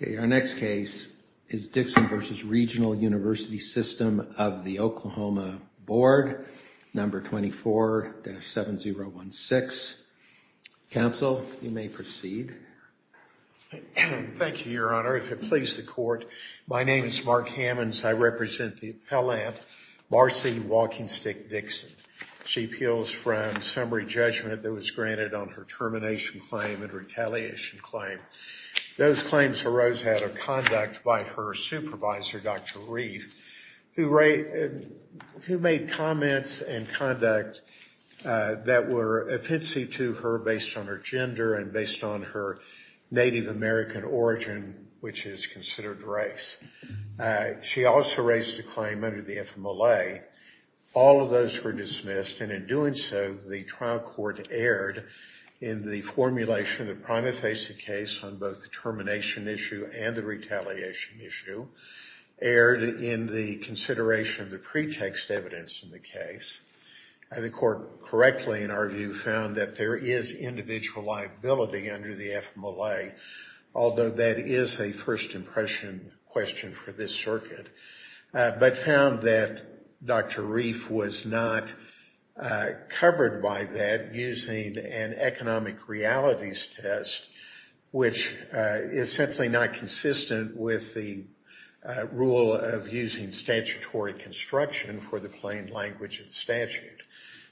Okay, our next case is Dixon v. Regional University System of the Oklahoma Board, number 24-7016. Counsel, you may proceed. Thank you, Your Honor. If it pleases the court, my name is Mark Hammons. I represent the appellant, Marcy Walking Stick Dixon. She appeals from summary judgment that was granted on her termination claim and retaliation claim. Those claims arose out of conduct by her supervisor, Dr. Reif, who made comments and conduct that were offensive to her based on her gender and based on her Native American origin, which is considered race. She also raised a claim under the FMLA. All of those were dismissed, and in doing so, the trial court erred in the formulation of the prima facie case on both the termination issue and the retaliation issue, erred in the consideration of the pretext evidence in the case. The court correctly, in our view, found that there is individual liability under the FMLA, although that is a first impression question for this circuit, but found that Dr. Reif was not covered by that using an economic realities test, which is simply not consistent with the rule of using statutory construction for the plain language of the statute.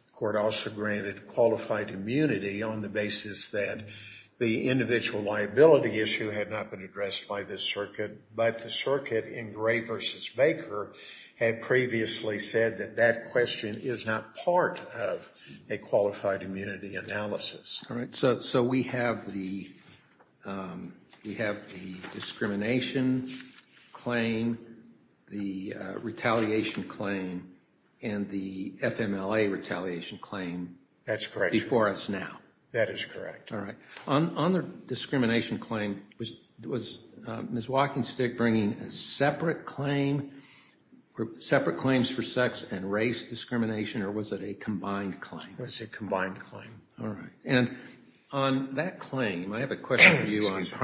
The court also granted qualified immunity on the basis that the individual liability issue had not been addressed by this circuit, but the circuit in Gray v. Baker had previously said that that question is not part of a qualified immunity analysis. All right. So we have the discrimination claim, the retaliation claim, and the FMLA retaliation claim before us now. That's correct. That is correct. All right. On the discrimination claim, was Ms. WalkingStick bringing a separate claim for separate claims for sex and race discrimination, or was it a combined claim? It was a combined claim. All right. And on that claim, I have a question for you on the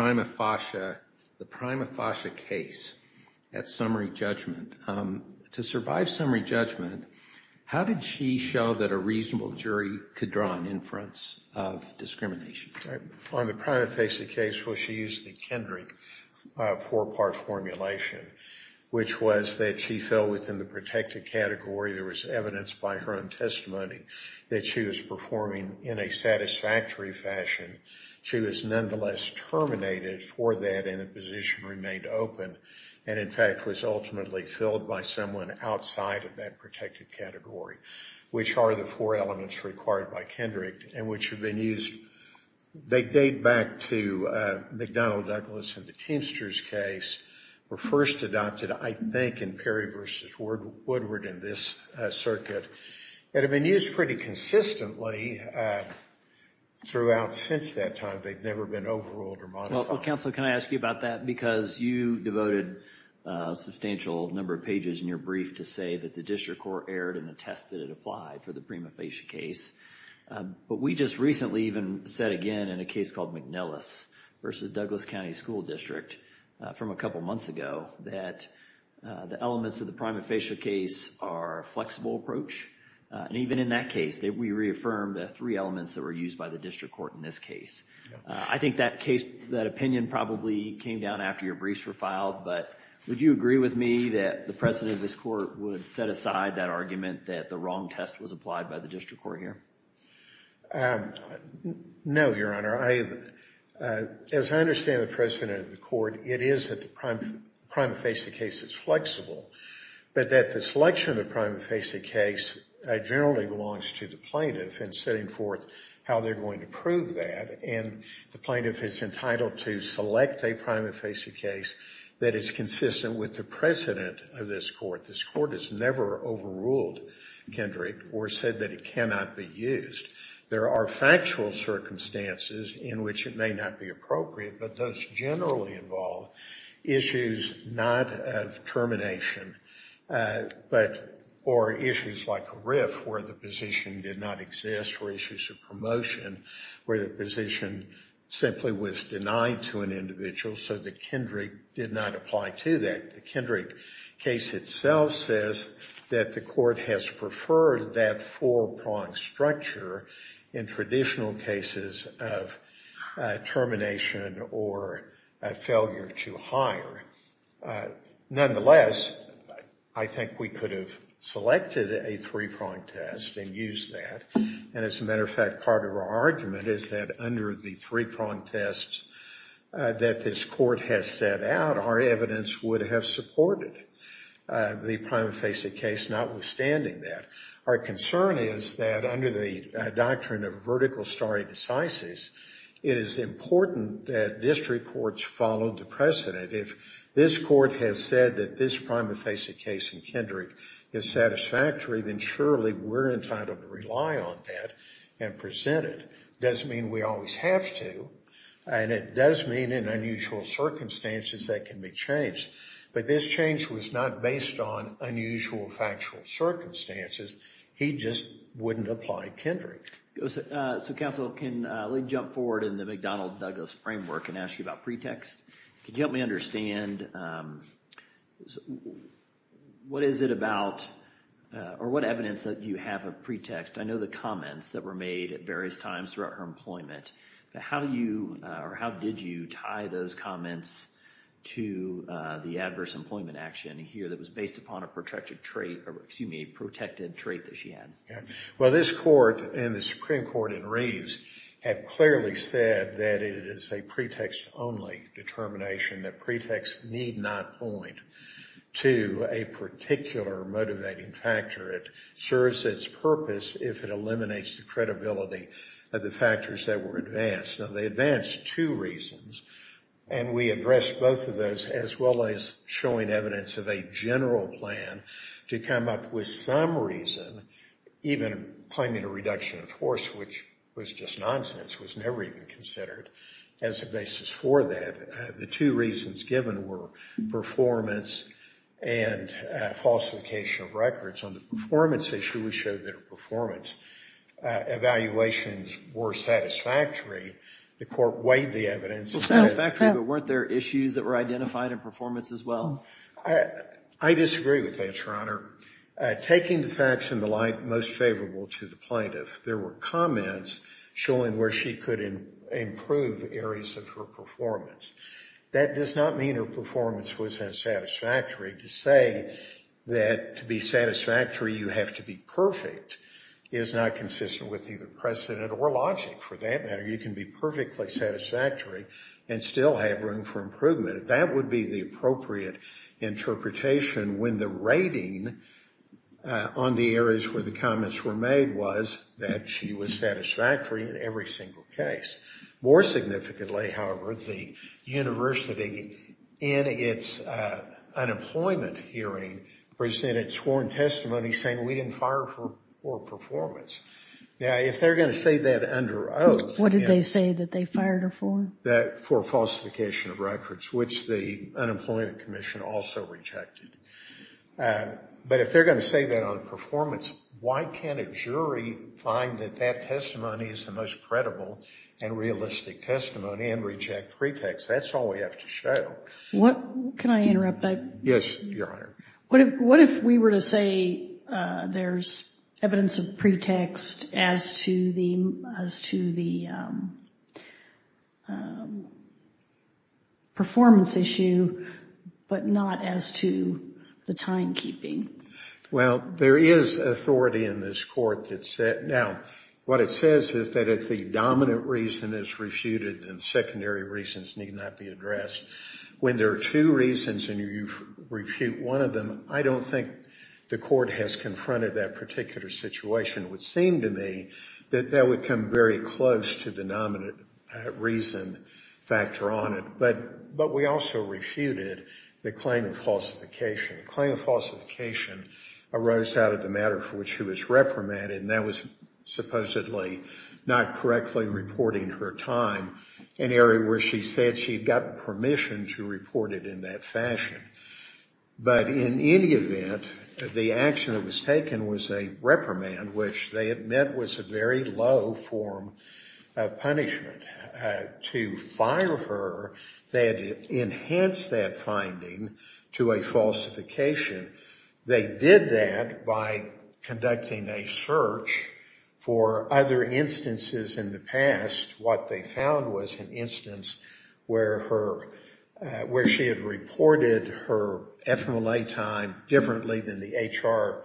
prima facie case at summary judgment. To survive that, a reasonable jury could draw an inference of discrimination. On the prima facie case, well, she used the Kendrick four-part formulation, which was that she fell within the protected category. There was evidence by her own testimony that she was performing in a satisfactory fashion. She was nonetheless terminated for that, and the position remained open and, in fact, was ultimately filled by someone outside of that protected category, which are the four elements required by Kendrick and which have been used. They date back to McDonnell Douglas and the Teamsters case were first adopted, I think, in Perry v. Woodward in this circuit. It had been used pretty consistently throughout since that time. They'd never been overruled or modified. Well, Counselor, can I ask you about that? Because you devoted a substantial number of issues in your brief to say that the district court erred in the test that it applied for the prima facie case. But we just recently even said again in a case called McNellis v. Douglas County School District from a couple months ago that the elements of the prima facie case are a flexible approach. And even in that case, we reaffirmed the three elements that were used by the district court in this case. I think that case, that opinion probably came down after your briefs were filed. But would you agree with me that the President of this Court would set aside that argument that the wrong test was applied by the district court here? No, Your Honor. As I understand the President of the Court, it is that the prima facie case is flexible, but that the selection of the prima facie case generally belongs to the plaintiff in setting forth how they're going to prove that. And the plaintiff is entitled to select a prima facie case that is consistent with the precedent of this Court. This Court has never overruled Kendrick or said that it cannot be used. There are factual circumstances in which it may not be appropriate, but those generally involve issues not of termination, or issues like a rift where the position did not exist, or issues of promotion where the position simply was denied to an individual, so that Kendrick did not apply to that. The Kendrick case itself says that the Court has preferred that four-pronged structure in traditional cases of termination or failure to hire. Nonetheless, I think we could have selected a three-pronged test and used that. And as a matter of fact, part of our argument is that under the three-pronged test that this Court has set out, our evidence would have supported the prima facie case, notwithstanding that. Our concern is that under the doctrine of vertical stare decisis, it is important that district courts follow the precedent. If this Court has said that this prima facie case in Kendrick is satisfactory, then surely we're entitled to rely on that and present it. It doesn't mean we always have to, and it does mean in unusual circumstances that can be changed. But this change was not based on unusual factual circumstances. He just wouldn't apply Kendrick. So, counsel, can we jump forward in the McDonnell-Douglas framework and ask you about pretexts? Can you help me understand, what is it about, or what evidence do you have of pretext? I know the comments that were made at various times throughout her employment. How do you, or how did you tie those comments to the adverse employment action here that was based upon a protected trait that she had? Well, this Court and the Supreme Court in Reeves have clearly said that it is a pretext-only determination, that pretexts need not point to a particular motivating factor. It serves its purpose if it eliminates the credibility of the factors that were advanced. Now, they advanced two reasons, and we addressed both of those, as well as showing evidence of a general plan to come up with some reason, even claiming a reduction of force, which was just nonsense, was never even considered as a basis for that. The two reasons given were performance and falsification of records. On the performance issue, we showed that her performance evaluations were satisfactory. The Court weighed the evidence and said... Well, satisfactory, but weren't there issues that were identified in performance as well? I disagree with that, Your Honor. Taking the facts in the light most favorable to the plaintiff, there were comments showing where she could improve areas of her performance. That does not mean her performance was unsatisfactory. To say that to be satisfactory you have to be perfect is not consistent with either precedent or logic, for that matter. You can be perfectly satisfactory and still have room for improvement. That would be the appropriate interpretation when the rating on the areas where the comments were made was that she was satisfactory in every single case. More significantly, however, the university in its unemployment hearing presented sworn testimony saying we didn't fire her for performance. Now, if they're going to say that under oath... What did they say that they fired her for? For falsification of records, which the Unemployment Commission also rejected. But if they're going to say that on performance, why can't a jury find that that testimony is the most credible and realistic testimony and reject pretext? That's all we have to show. Can I interrupt? Yes, Your Honor. What if we were to say there's evidence of pretext as to the... performance issue, but not as to the timekeeping? Well, there is authority in this court that said... Now, what it says is that if the dominant reason is refuted, then secondary reasons need not be addressed. When there are two reasons and you refute one of them, I don't think the court has confronted that particular situation. It would seem to me that that would come very close to the dominant reason factor on it. But we also refuted the claim of falsification. The claim of falsification arose out of the matter for which she was reprimanded, and that was supposedly not correctly reporting her time in an area where she said she'd gotten permission to report it in that fashion. But in any event, the action that was taken was a reprimand, which they admit was a very low form of punishment. To fire her, they had to enhance that finding to a falsification. They did that by conducting a search for other instances in the past. What they found was an instance where she had reported her FMLA time differently than the HR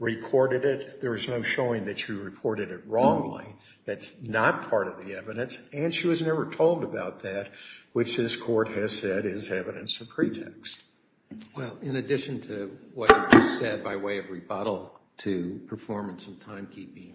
recorded it. There was no showing that she reported it wrongly. That's not part of the evidence, and she was never told about that, which this court has said is evidence of pretext. Well, in addition to what you said by way of rebuttal to performance and timekeeping,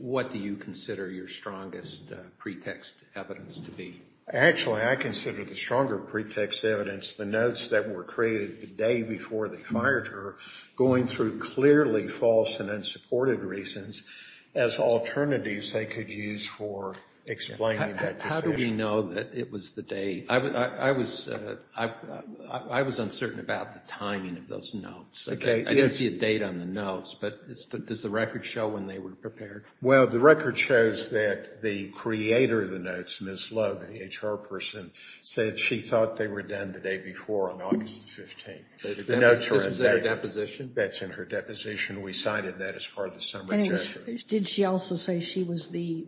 what do you consider your strongest pretext evidence to be? Actually, I consider the stronger pretext evidence the notes that were created the day before they fired her going through clearly false and unsupported reasons as alternatives they could use for explaining that decision. How did she know that it was the day? I was uncertain about the timing of those notes. I didn't see a date on the notes, but does the record show when they were prepared? Well, the record shows that the creator of the notes, Ms. Lugg, the HR person, said she thought they were done the day before on August 15th. This was in her deposition? That's in her deposition. We cited that as part of the summary judgment. Did she also say she was the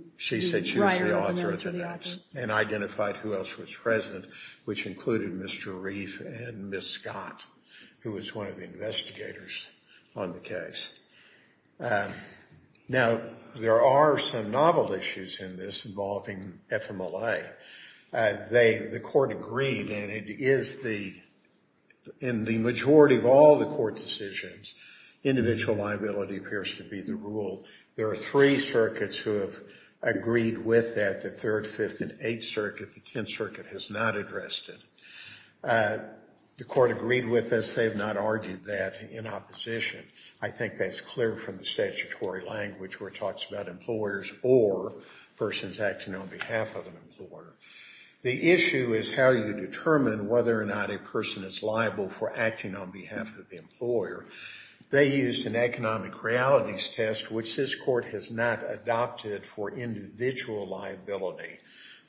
writer of the notes? And identified who else was present, which included Mr. Reif and Ms. Scott, who was one of the investigators on the case. Now, there are some novel issues in this involving FMLA. The court agreed, and it is the, in the majority of all the court decisions, individual liability appears to be the rule. There are three circuits who have agreed with that, the Third, Fifth, and Eighth Circuit. The Tenth Circuit has not addressed it. The court agreed with this. They have not argued that in opposition. I think that's clear from the statutory language where it talks about employers or persons acting on behalf of an employer. The issue is how you determine whether or not a person is liable for acting on behalf of the employer. They used an economic realities test, which this court has not adopted for individual liability.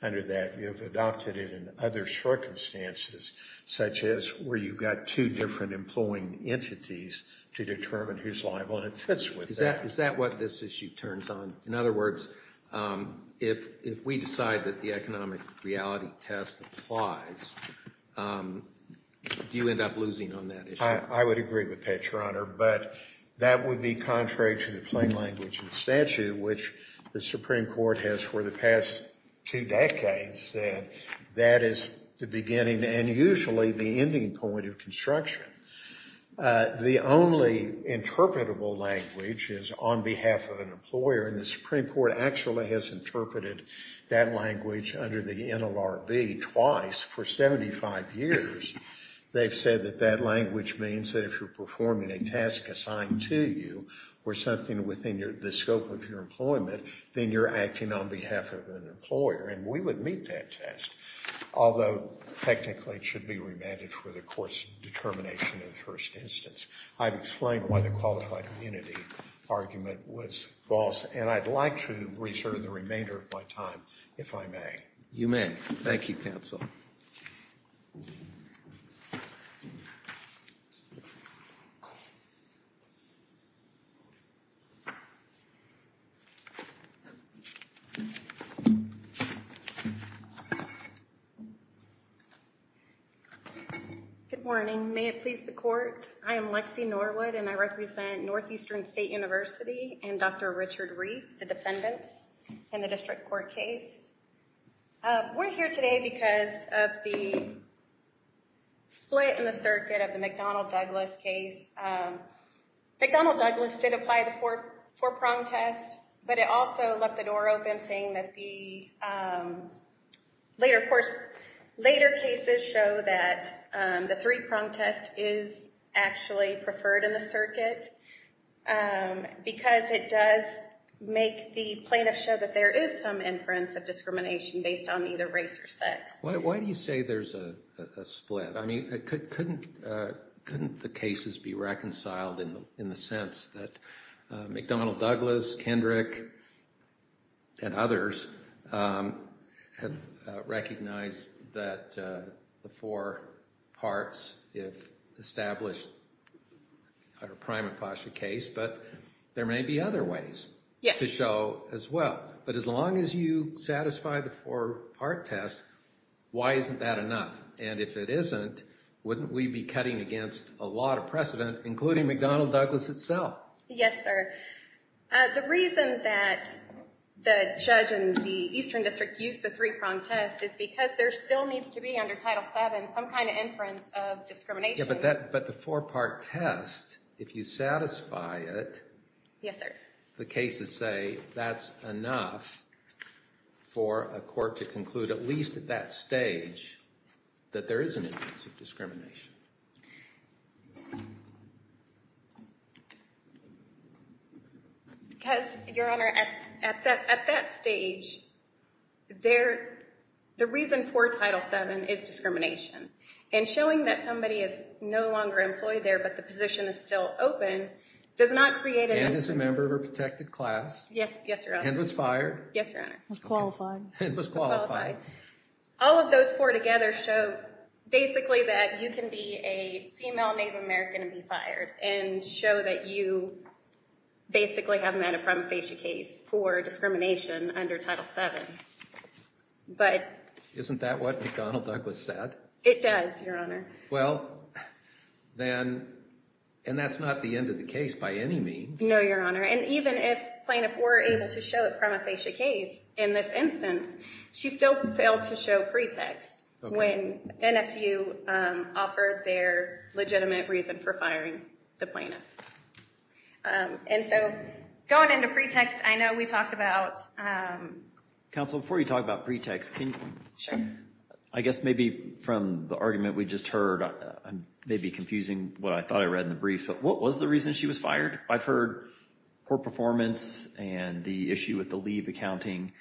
Under that, you've adopted it in other circumstances, such as where you've got two different employing entities to determine who's liable, and it fits with that. Is that what this issue turns on? In other words, if we decide that the economic reality test applies, do you end up losing on that issue? I would agree with that, Your Honor, but that would be contrary to the plain language and statute, which the Supreme Court has for the past two decades said that is the beginning and usually the ending point of construction. The only interpretable language is on behalf of an employer, and the Supreme Court actually has interpreted that language under the NLRB twice for 75 years. They've said that that language means that if you're performing a task assigned to you or something within the scope of your employment, then you're acting on behalf of an employer, and we would meet that test, although technically it should be remanded for the court's determination in the first instance. I've explained why the qualified immunity argument was false, and I'd like to reserve the remainder of my time, if I may. You may. Thank you, counsel. Good morning. May it please the court, I am Lexi Norwood, and I represent Northeastern State University and Dr. Richard Reed, the defendants in the district court case. We're here today because of the split in the circuit of the McDonnell-Douglas case. McDonnell-Douglas did apply the four-prong test, but it also left the door open saying that the later cases show that the three-prong test is actually preferred in the circuit, because it does make the plaintiff show that there is some inference of discrimination based on either race or sex. Why do you say there's a split? I mean, couldn't the cases be reconciled in the sense that McDonnell-Douglas, Kendrick, and others have recognized that the four parts, if established, are a prima facie case, but there may be other ways to show as well. But as long as you satisfy the four-part test, why isn't that enough? And if it isn't, wouldn't we be cutting against a lot of precedent, including McDonnell-Douglas itself? Yes, sir. The reason that the judge in the Eastern District used the three-prong test is because there still needs to be under Title VII some kind of inference of discrimination. But the four-part test, if you satisfy it, the cases say that's enough for a court to conclude, at least at that stage, that there is an inference of discrimination. Because, Your Honor, at that stage, the reason for Title VII is discrimination. And showing that somebody is no longer employed there, but the position is still open, does not create an inference. And is a member of a protected class. Yes, Your Honor. And was fired. Yes, Your Honor. Was qualified. And was qualified. All of those four together show basically that you can be a female Native American and be fired. And show that you basically have met a prima facie case for discrimination under Title VII. Isn't that what McDonnell-Douglas said? It does, Your Honor. Well, then, and that's not the end of the case by any means. No, Your Honor. And even if plaintiff were able to show a prima facie case in this instance, she still failed to show pretext when NSU offered their legitimate reason for firing the plaintiff. And so, going into pretext, I know we talked about... Counsel, before you talk about pretext, can you... I guess maybe from the argument we just heard, I may be confusing what I thought I read in the brief, but what was the reason she was fired? I've heard poor performance and the issue with the leave accounting.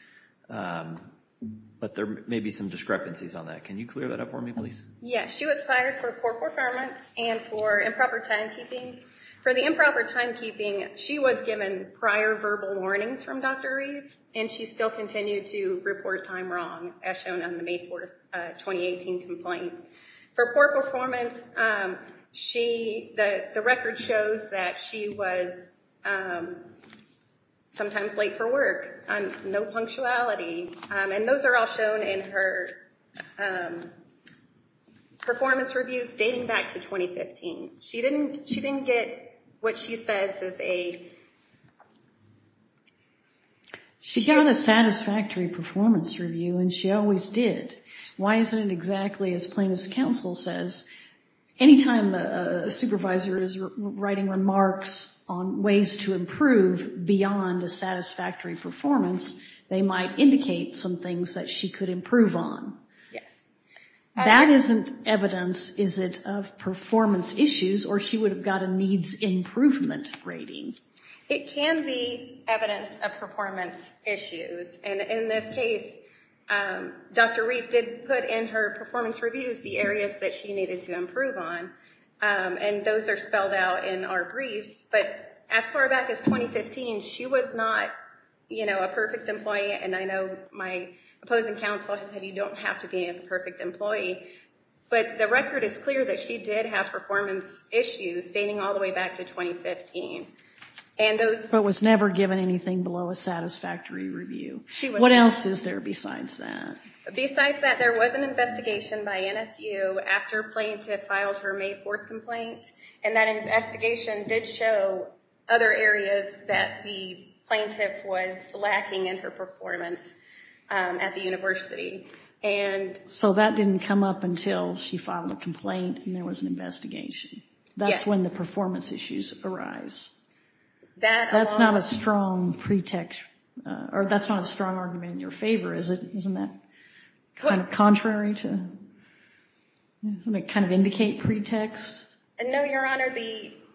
But there may be some discrepancies on that. Can you clear that up for me, please? Yes, she was fired for poor performance and for improper timekeeping. For the improper timekeeping, she was given prior verbal warnings from Dr. Reeve, and she still continued to report time wrong, as shown on the May 4, 2018 complaint. For poor performance, the record shows that she was sometimes late for work. No punctuality. And those are all shown in her performance reviews dating back to 2015. She didn't get what she says is a... She got a satisfactory performance review, and she always did. Why isn't it exactly as plaintiff's counsel says? Anytime a supervisor is writing remarks on ways to improve beyond a satisfactory performance, they might indicate some things that she could improve on. Yes. That isn't evidence, is it, of performance issues, or she would have got a needs improvement rating? It can be evidence of performance issues. In this case, Dr. Reeve did put in her performance reviews the areas that she needed to improve on, and those are spelled out in our briefs. But as far back as 2015, she was not a perfect employee, and I know my opposing counsel has said you don't have to be a perfect employee, but the record is clear that she did have performance issues dating all the way back to 2015. But was never given anything below a satisfactory review. What else is there besides that? Besides that, there was an investigation by NSU after plaintiff filed her May 4th complaint, and that investigation did show other areas that the plaintiff was lacking in her performance at the university. So that didn't come up until she filed a complaint and there was an investigation. That's when the performance issues arise. That's not a strong argument in your favor, is it? Isn't that kind of contrary to, kind of indicate pretext? No, Your Honor.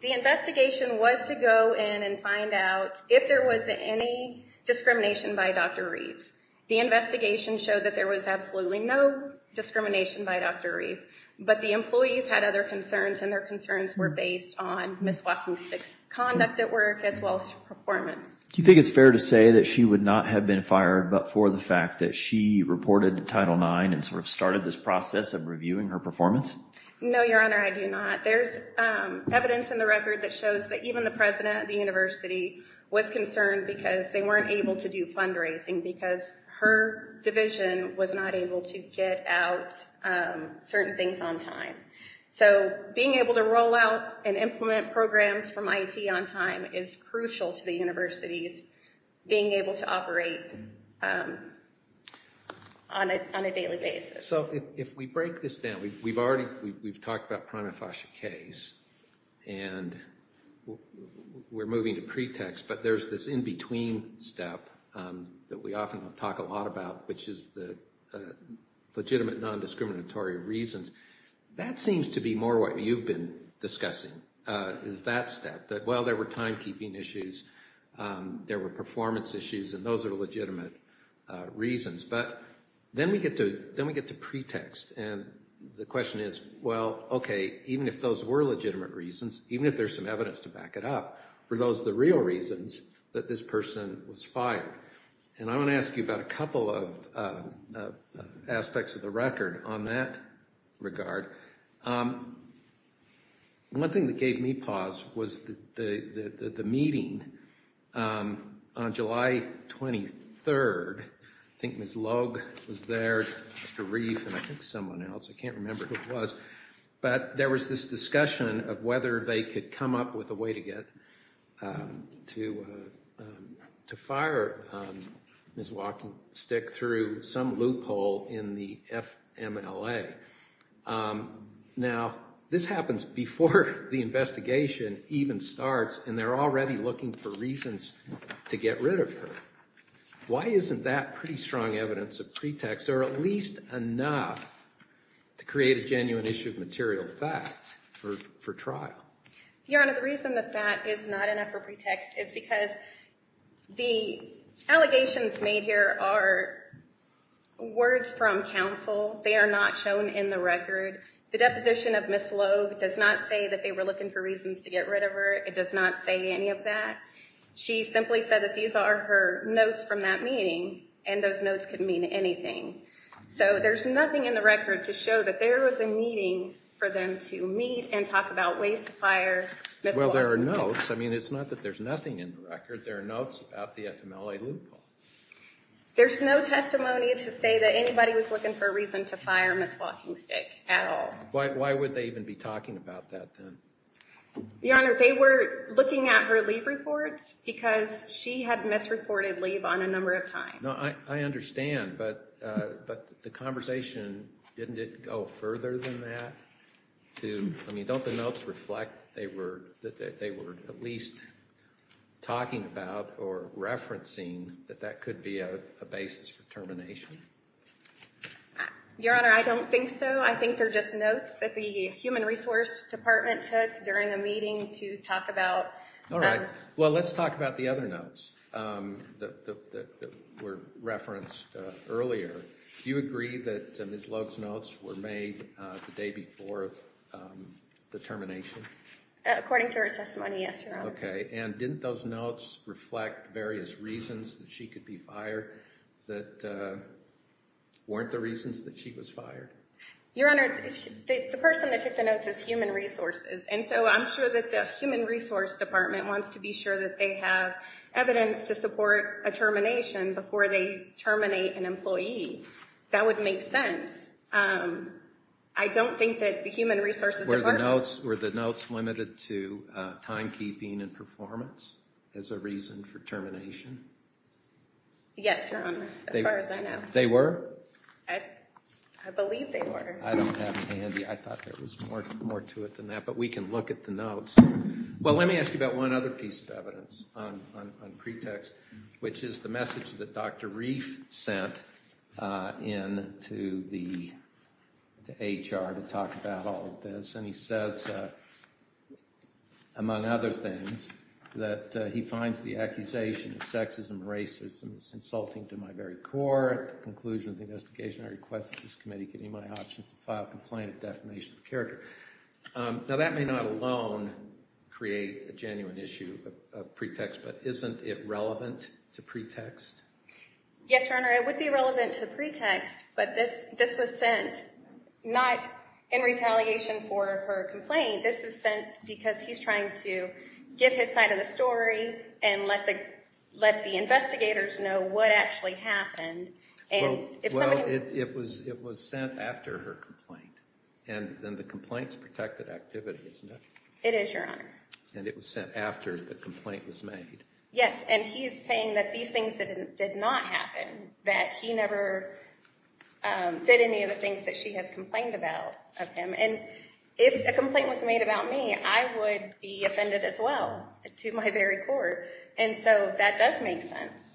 The investigation was to go in and find out if there was any discrimination by Dr. Reeve. The investigation showed that there was absolutely no discrimination by Dr. Reeve, but the employees had other concerns and their concerns were based on Ms. WalkingStick's conduct at work as well as her performance. Do you think it's fair to say that she would not have been fired but for the fact that she reported to Title IX and sort of started this process of reviewing her performance? No, Your Honor, I do not. There's evidence in the record that shows that even the president of the university was concerned because they weren't able to do fundraising because her division was not able to get out certain things on time. So being able to roll out and implement programs from IET on time is crucial to the university's being able to operate on a daily basis. So if we break this down, we've talked about Pranafasha Case and we're moving to pretext, but there's this in-between step that we often talk a lot about, which is the legitimate non-discriminatory reasons. That seems to be more what you've been discussing, is that step. That, well, there were timekeeping issues, there were performance issues, and those are legitimate reasons. But then we get to pretext, and the question is, well, okay, even if those were legitimate reasons, even if there's some evidence to back it up, were those the real reasons that this person was fired? And I want to ask you about a couple of aspects of the record on that regard. One thing that gave me pause was the meeting on July 23rd. I think Ms. Logue was there, Dr. Reif, and I think someone else, I can't remember who it was. But there was this discussion of whether they could come up with a way to get to fire Ms. Walkensticke through some loophole in the FMLA. Now, this happens before the investigation even starts, and they're already looking for reasons to get rid of her. Why isn't that pretty strong evidence of pretext, or at least enough to create a genuine issue of material fact for trial? Your Honor, the reason that that is not enough of a pretext is because the allegations made here are words from counsel. They are not shown in the record. The deposition of Ms. Logue does not say that they were looking for reasons to get rid of her. It does not say any of that. She simply said that these are her notes from that meeting, and those notes could mean anything. So there's nothing in the record to show that there was a meeting for them to meet and talk about ways to fire Ms. Walkensticke. Well, there are notes. I mean, it's not that there's nothing in the record. There are notes about the FMLA loophole. There's no testimony to say that anybody was looking for a reason to fire Ms. Walkensticke at all. Why would they even be talking about that, then? Your Honor, they were looking at her leave reports because she had misreported leave on a number of times. No, I understand. But the conversation, didn't it go further than that? I mean, don't the notes reflect that they were at least talking about or referencing that that could be a basis for termination? Your Honor, I don't think so. I think they're just notes that the Human Resources Department took during a meeting to talk about. Well, let's talk about the other notes that were referenced earlier. Do you agree that Ms. Logue's notes were made the day before the termination? According to her testimony, yes, Your Honor. Okay. And didn't those notes reflect various reasons that she could be fired that weren't the reasons that she was fired? Your Honor, the person that took the notes is Human Resources. And so I'm sure that the Human Resources Department wants to be sure that they have evidence to support a termination before they terminate an employee. That would make sense. I don't think that the Human Resources Department... Were the notes limited to timekeeping and performance as a reason for termination? Yes, Your Honor, as far as I know. They were? I believe they were. I don't have them handy. I thought there was more to it than that. But we can look at the notes. Well, let me ask you about one other piece of evidence on pretext, which is the message that Dr. Reif sent in to the HR to talk about all of this. And he says, among other things, that he finds the accusation of sexism and racism insulting to my very core. At the conclusion of the investigation, I request that this committee give me my option to file a complaint of defamation of character. Now, that may not alone create a genuine issue of pretext, but isn't it relevant to pretext? Yes, Your Honor, it would be relevant to pretext, but this was sent not in retaliation for her complaint. This is sent because he's trying to get his side of the story and let the investigators know what actually happened. Well, it was sent after her complaint, and then the complaint's protected activity, isn't it? It is, Your Honor. And it was sent after the complaint was made. Yes, and he's saying that these things did not happen, that he never did any of the things that she has complained about of him. And if a complaint was made about me, I would be offended as well to my very core. And so that does make sense.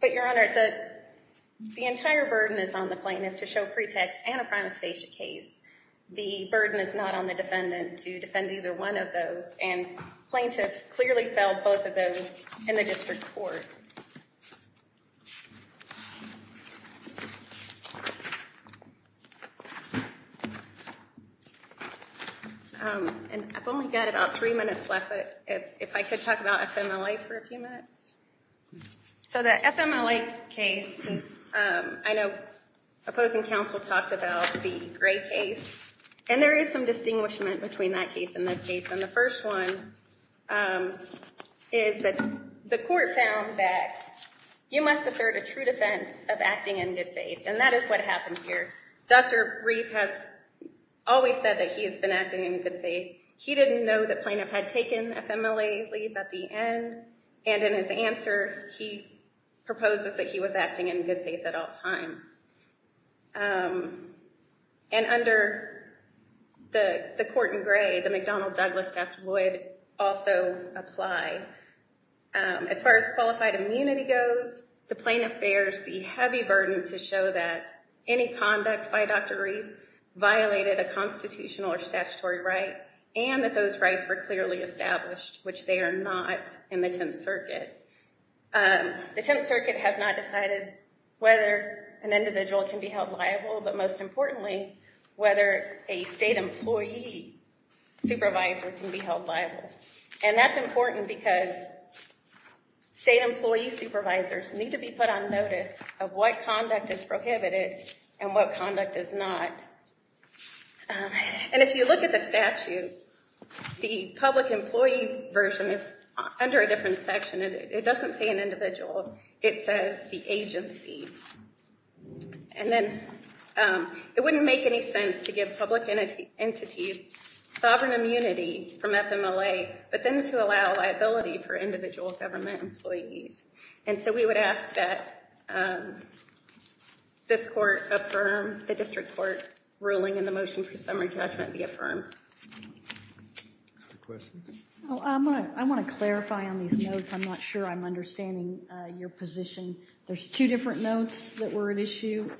But, Your Honor, the entire burden is on the plaintiff to show pretext and a prima facie case. The burden is not on the defendant to defend either one of those, and plaintiff clearly fell both of those in the district court. And I've only got about three minutes left, but if I could talk about FMLA for a few minutes. So the FMLA case, I know opposing counsel talked about the Gray case, and there is some distinguishment between that case and this case. And the first one is that the court found that you must assert a true defense of acting in good faith, and that is what happened here. Dr. Reif has always said that he has been acting in good faith. He didn't know the plaintiff had taken FMLA leave at the end, and in his answer, he proposes that he was acting in good faith at all times. And under the court in Gray, the McDonnell-Douglas test would also apply. As far as qualified immunity goes, the plaintiff bears the heavy burden to show that any conduct by Dr. Reif violated a constitutional or statutory right, and that those rights were clearly established, which they are not in the Tenth Circuit. The Tenth Circuit has not decided whether an individual can be held liable, but most importantly, whether a state employee supervisor can be held liable. And that's important because state employee supervisors need to be put on notice of what conduct is prohibited and what conduct is not. And if you look at the statute, the public employee version is under a different section. It doesn't say an individual. It says the agency. And then it wouldn't make any sense to give public entities sovereign immunity from FMLA, but then to allow liability for individual government employees. And so we would ask that this court affirm the district court ruling and the motion for summary judgment be affirmed. Questions? I want to clarify on these notes. I'm not sure I'm understanding your position. There's two different notes that were at issue.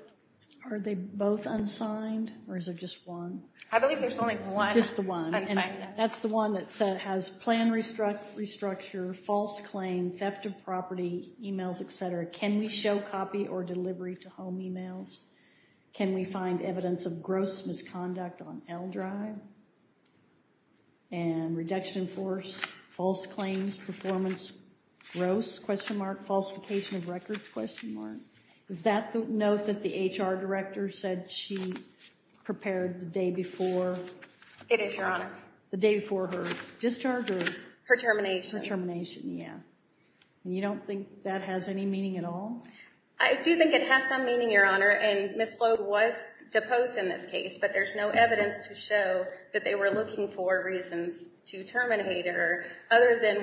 Are they both unsigned, or is there just one? I believe there's only one. That's the one that has plan restructure, false claim, theft of property, emails, etc. Can we show copy or delivery to home emails? Can we find evidence of gross misconduct on L drive and reduction in force, false claims, performance, gross, question mark, falsification of records, question mark. Is that the note that the HR director said she prepared the day before? It is, Your Honor. The day before her discharge or? Her termination. Her termination, yeah. You don't think that has any meaning at all? I do think it has some meaning, Your Honor, and Ms. Sloat was deposed in this case, but there's no evidence to show that they were looking for reasons to terminate her, other than.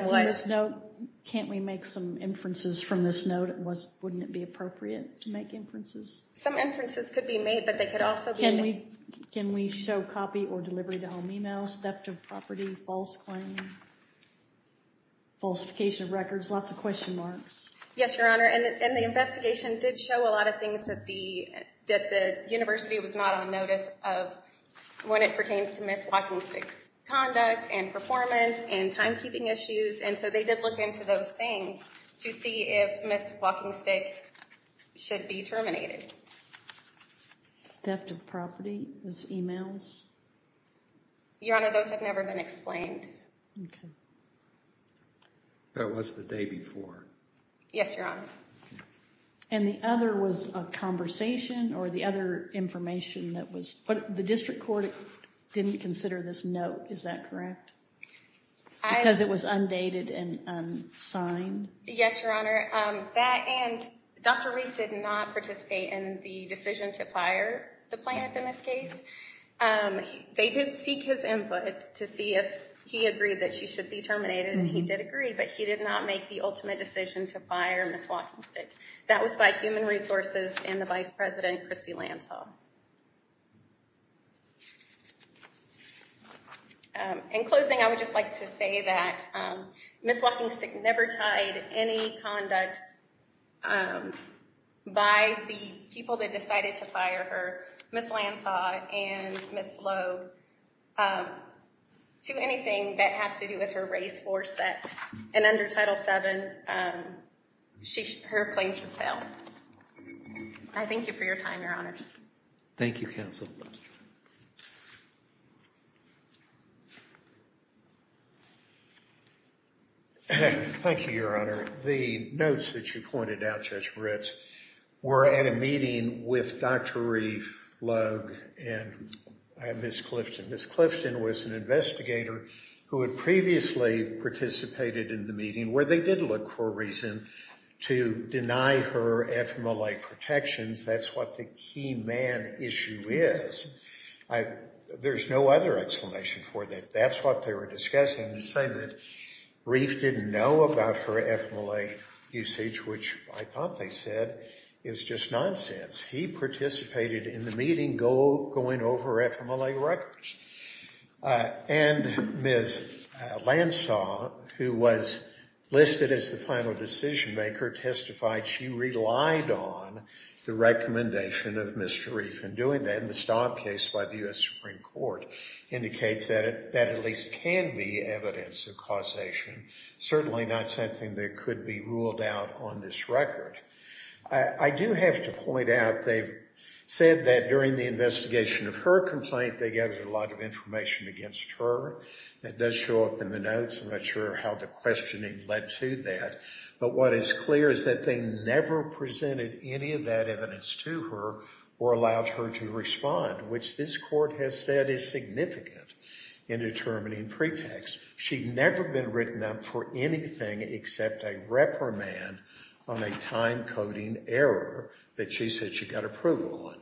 Can't we make some inferences from this note? Wouldn't it be appropriate to make inferences? Some inferences could be made, but they could also be made. Can we show copy or delivery to home emails, theft of property, false claim, falsification of records, lots of question marks? Yes, Your Honor, and the investigation did show a lot of things that the university was not on notice of when it pertains to Ms. WalkingStick's conduct and performance and timekeeping issues. And so they did look into those things to see if Ms. WalkingStick should be terminated. Theft of property, those emails? Your Honor, those have never been explained. That was the day before. Yes, Your Honor. And the other was a conversation or the other information that was, but the district court didn't consider this note, is that correct? Because it was undated and unsigned? Yes, Your Honor. And Dr. Reed did not participate in the decision to fire the plaintiff in this case. They did seek his input to see if he agreed that she should be terminated, and he did agree, but he did not make the ultimate decision to fire Ms. WalkingStick. That was by human resources and the vice president, Christy Lansall. In closing, I would just like to say that Ms. WalkingStick never tied any conduct by the people that decided to fire her, Ms. Lansall and Ms. Lowe, to anything that has to do with her race or sex. And under Title VII, her claim should fail. I thank you for your time, Your Honors. Thank you, Counsel. Thank you, Your Honor. The notes that you pointed out, Judge Ritz, were at a meeting with Dr. Reeve, Logue, and Ms. Clifton. Ms. Clifton was an investigator who had previously participated in the meeting where they did look for a reason to deny her FMLA protections. That's what the key man issue is. There's no other explanation for that. That's what they were discussing, saying that Reeve didn't know about her FMLA usage, which I thought they said is just nonsense. He participated in the meeting going over FMLA records. And Ms. Lansall, who was listed as the final decision maker, testified she relied on the recommendation of Mr. Reeve in doing that. And the Stott case by the U.S. Supreme Court indicates that at least can be evidence of causation. Certainly not something that could be ruled out on this record. I do have to point out they've said that during the investigation of her complaint, they gathered a lot of information against her. That does show up in the notes. I'm not sure how the questioning led to that. But what is clear is that they never presented any of that evidence to her or allowed her to respond, which this court has said is significant in determining pretext. She'd never been written up for anything except a reprimand on a time-coding error that she said she got approval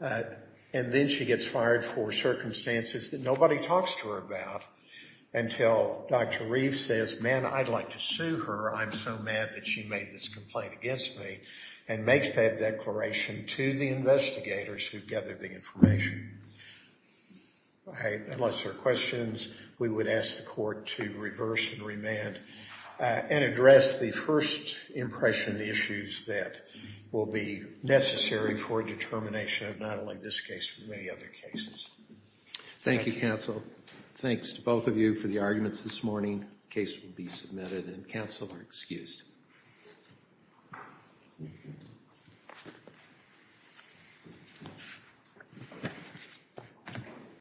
on. And then she gets fired for circumstances that nobody talks to her about until Dr. Reeve says, man, I'd like to sue her. I'm so mad that she made this complaint against me, and makes that declaration to the investigators who gathered the information. Unless there are questions, we would ask the court to reverse and remand and address the first impression issues that will be necessary for determination of not only this case but many other cases. Thank you, counsel. Thanks to both of you for the arguments this morning. The case will be submitted, and counsel are excused. Thank you.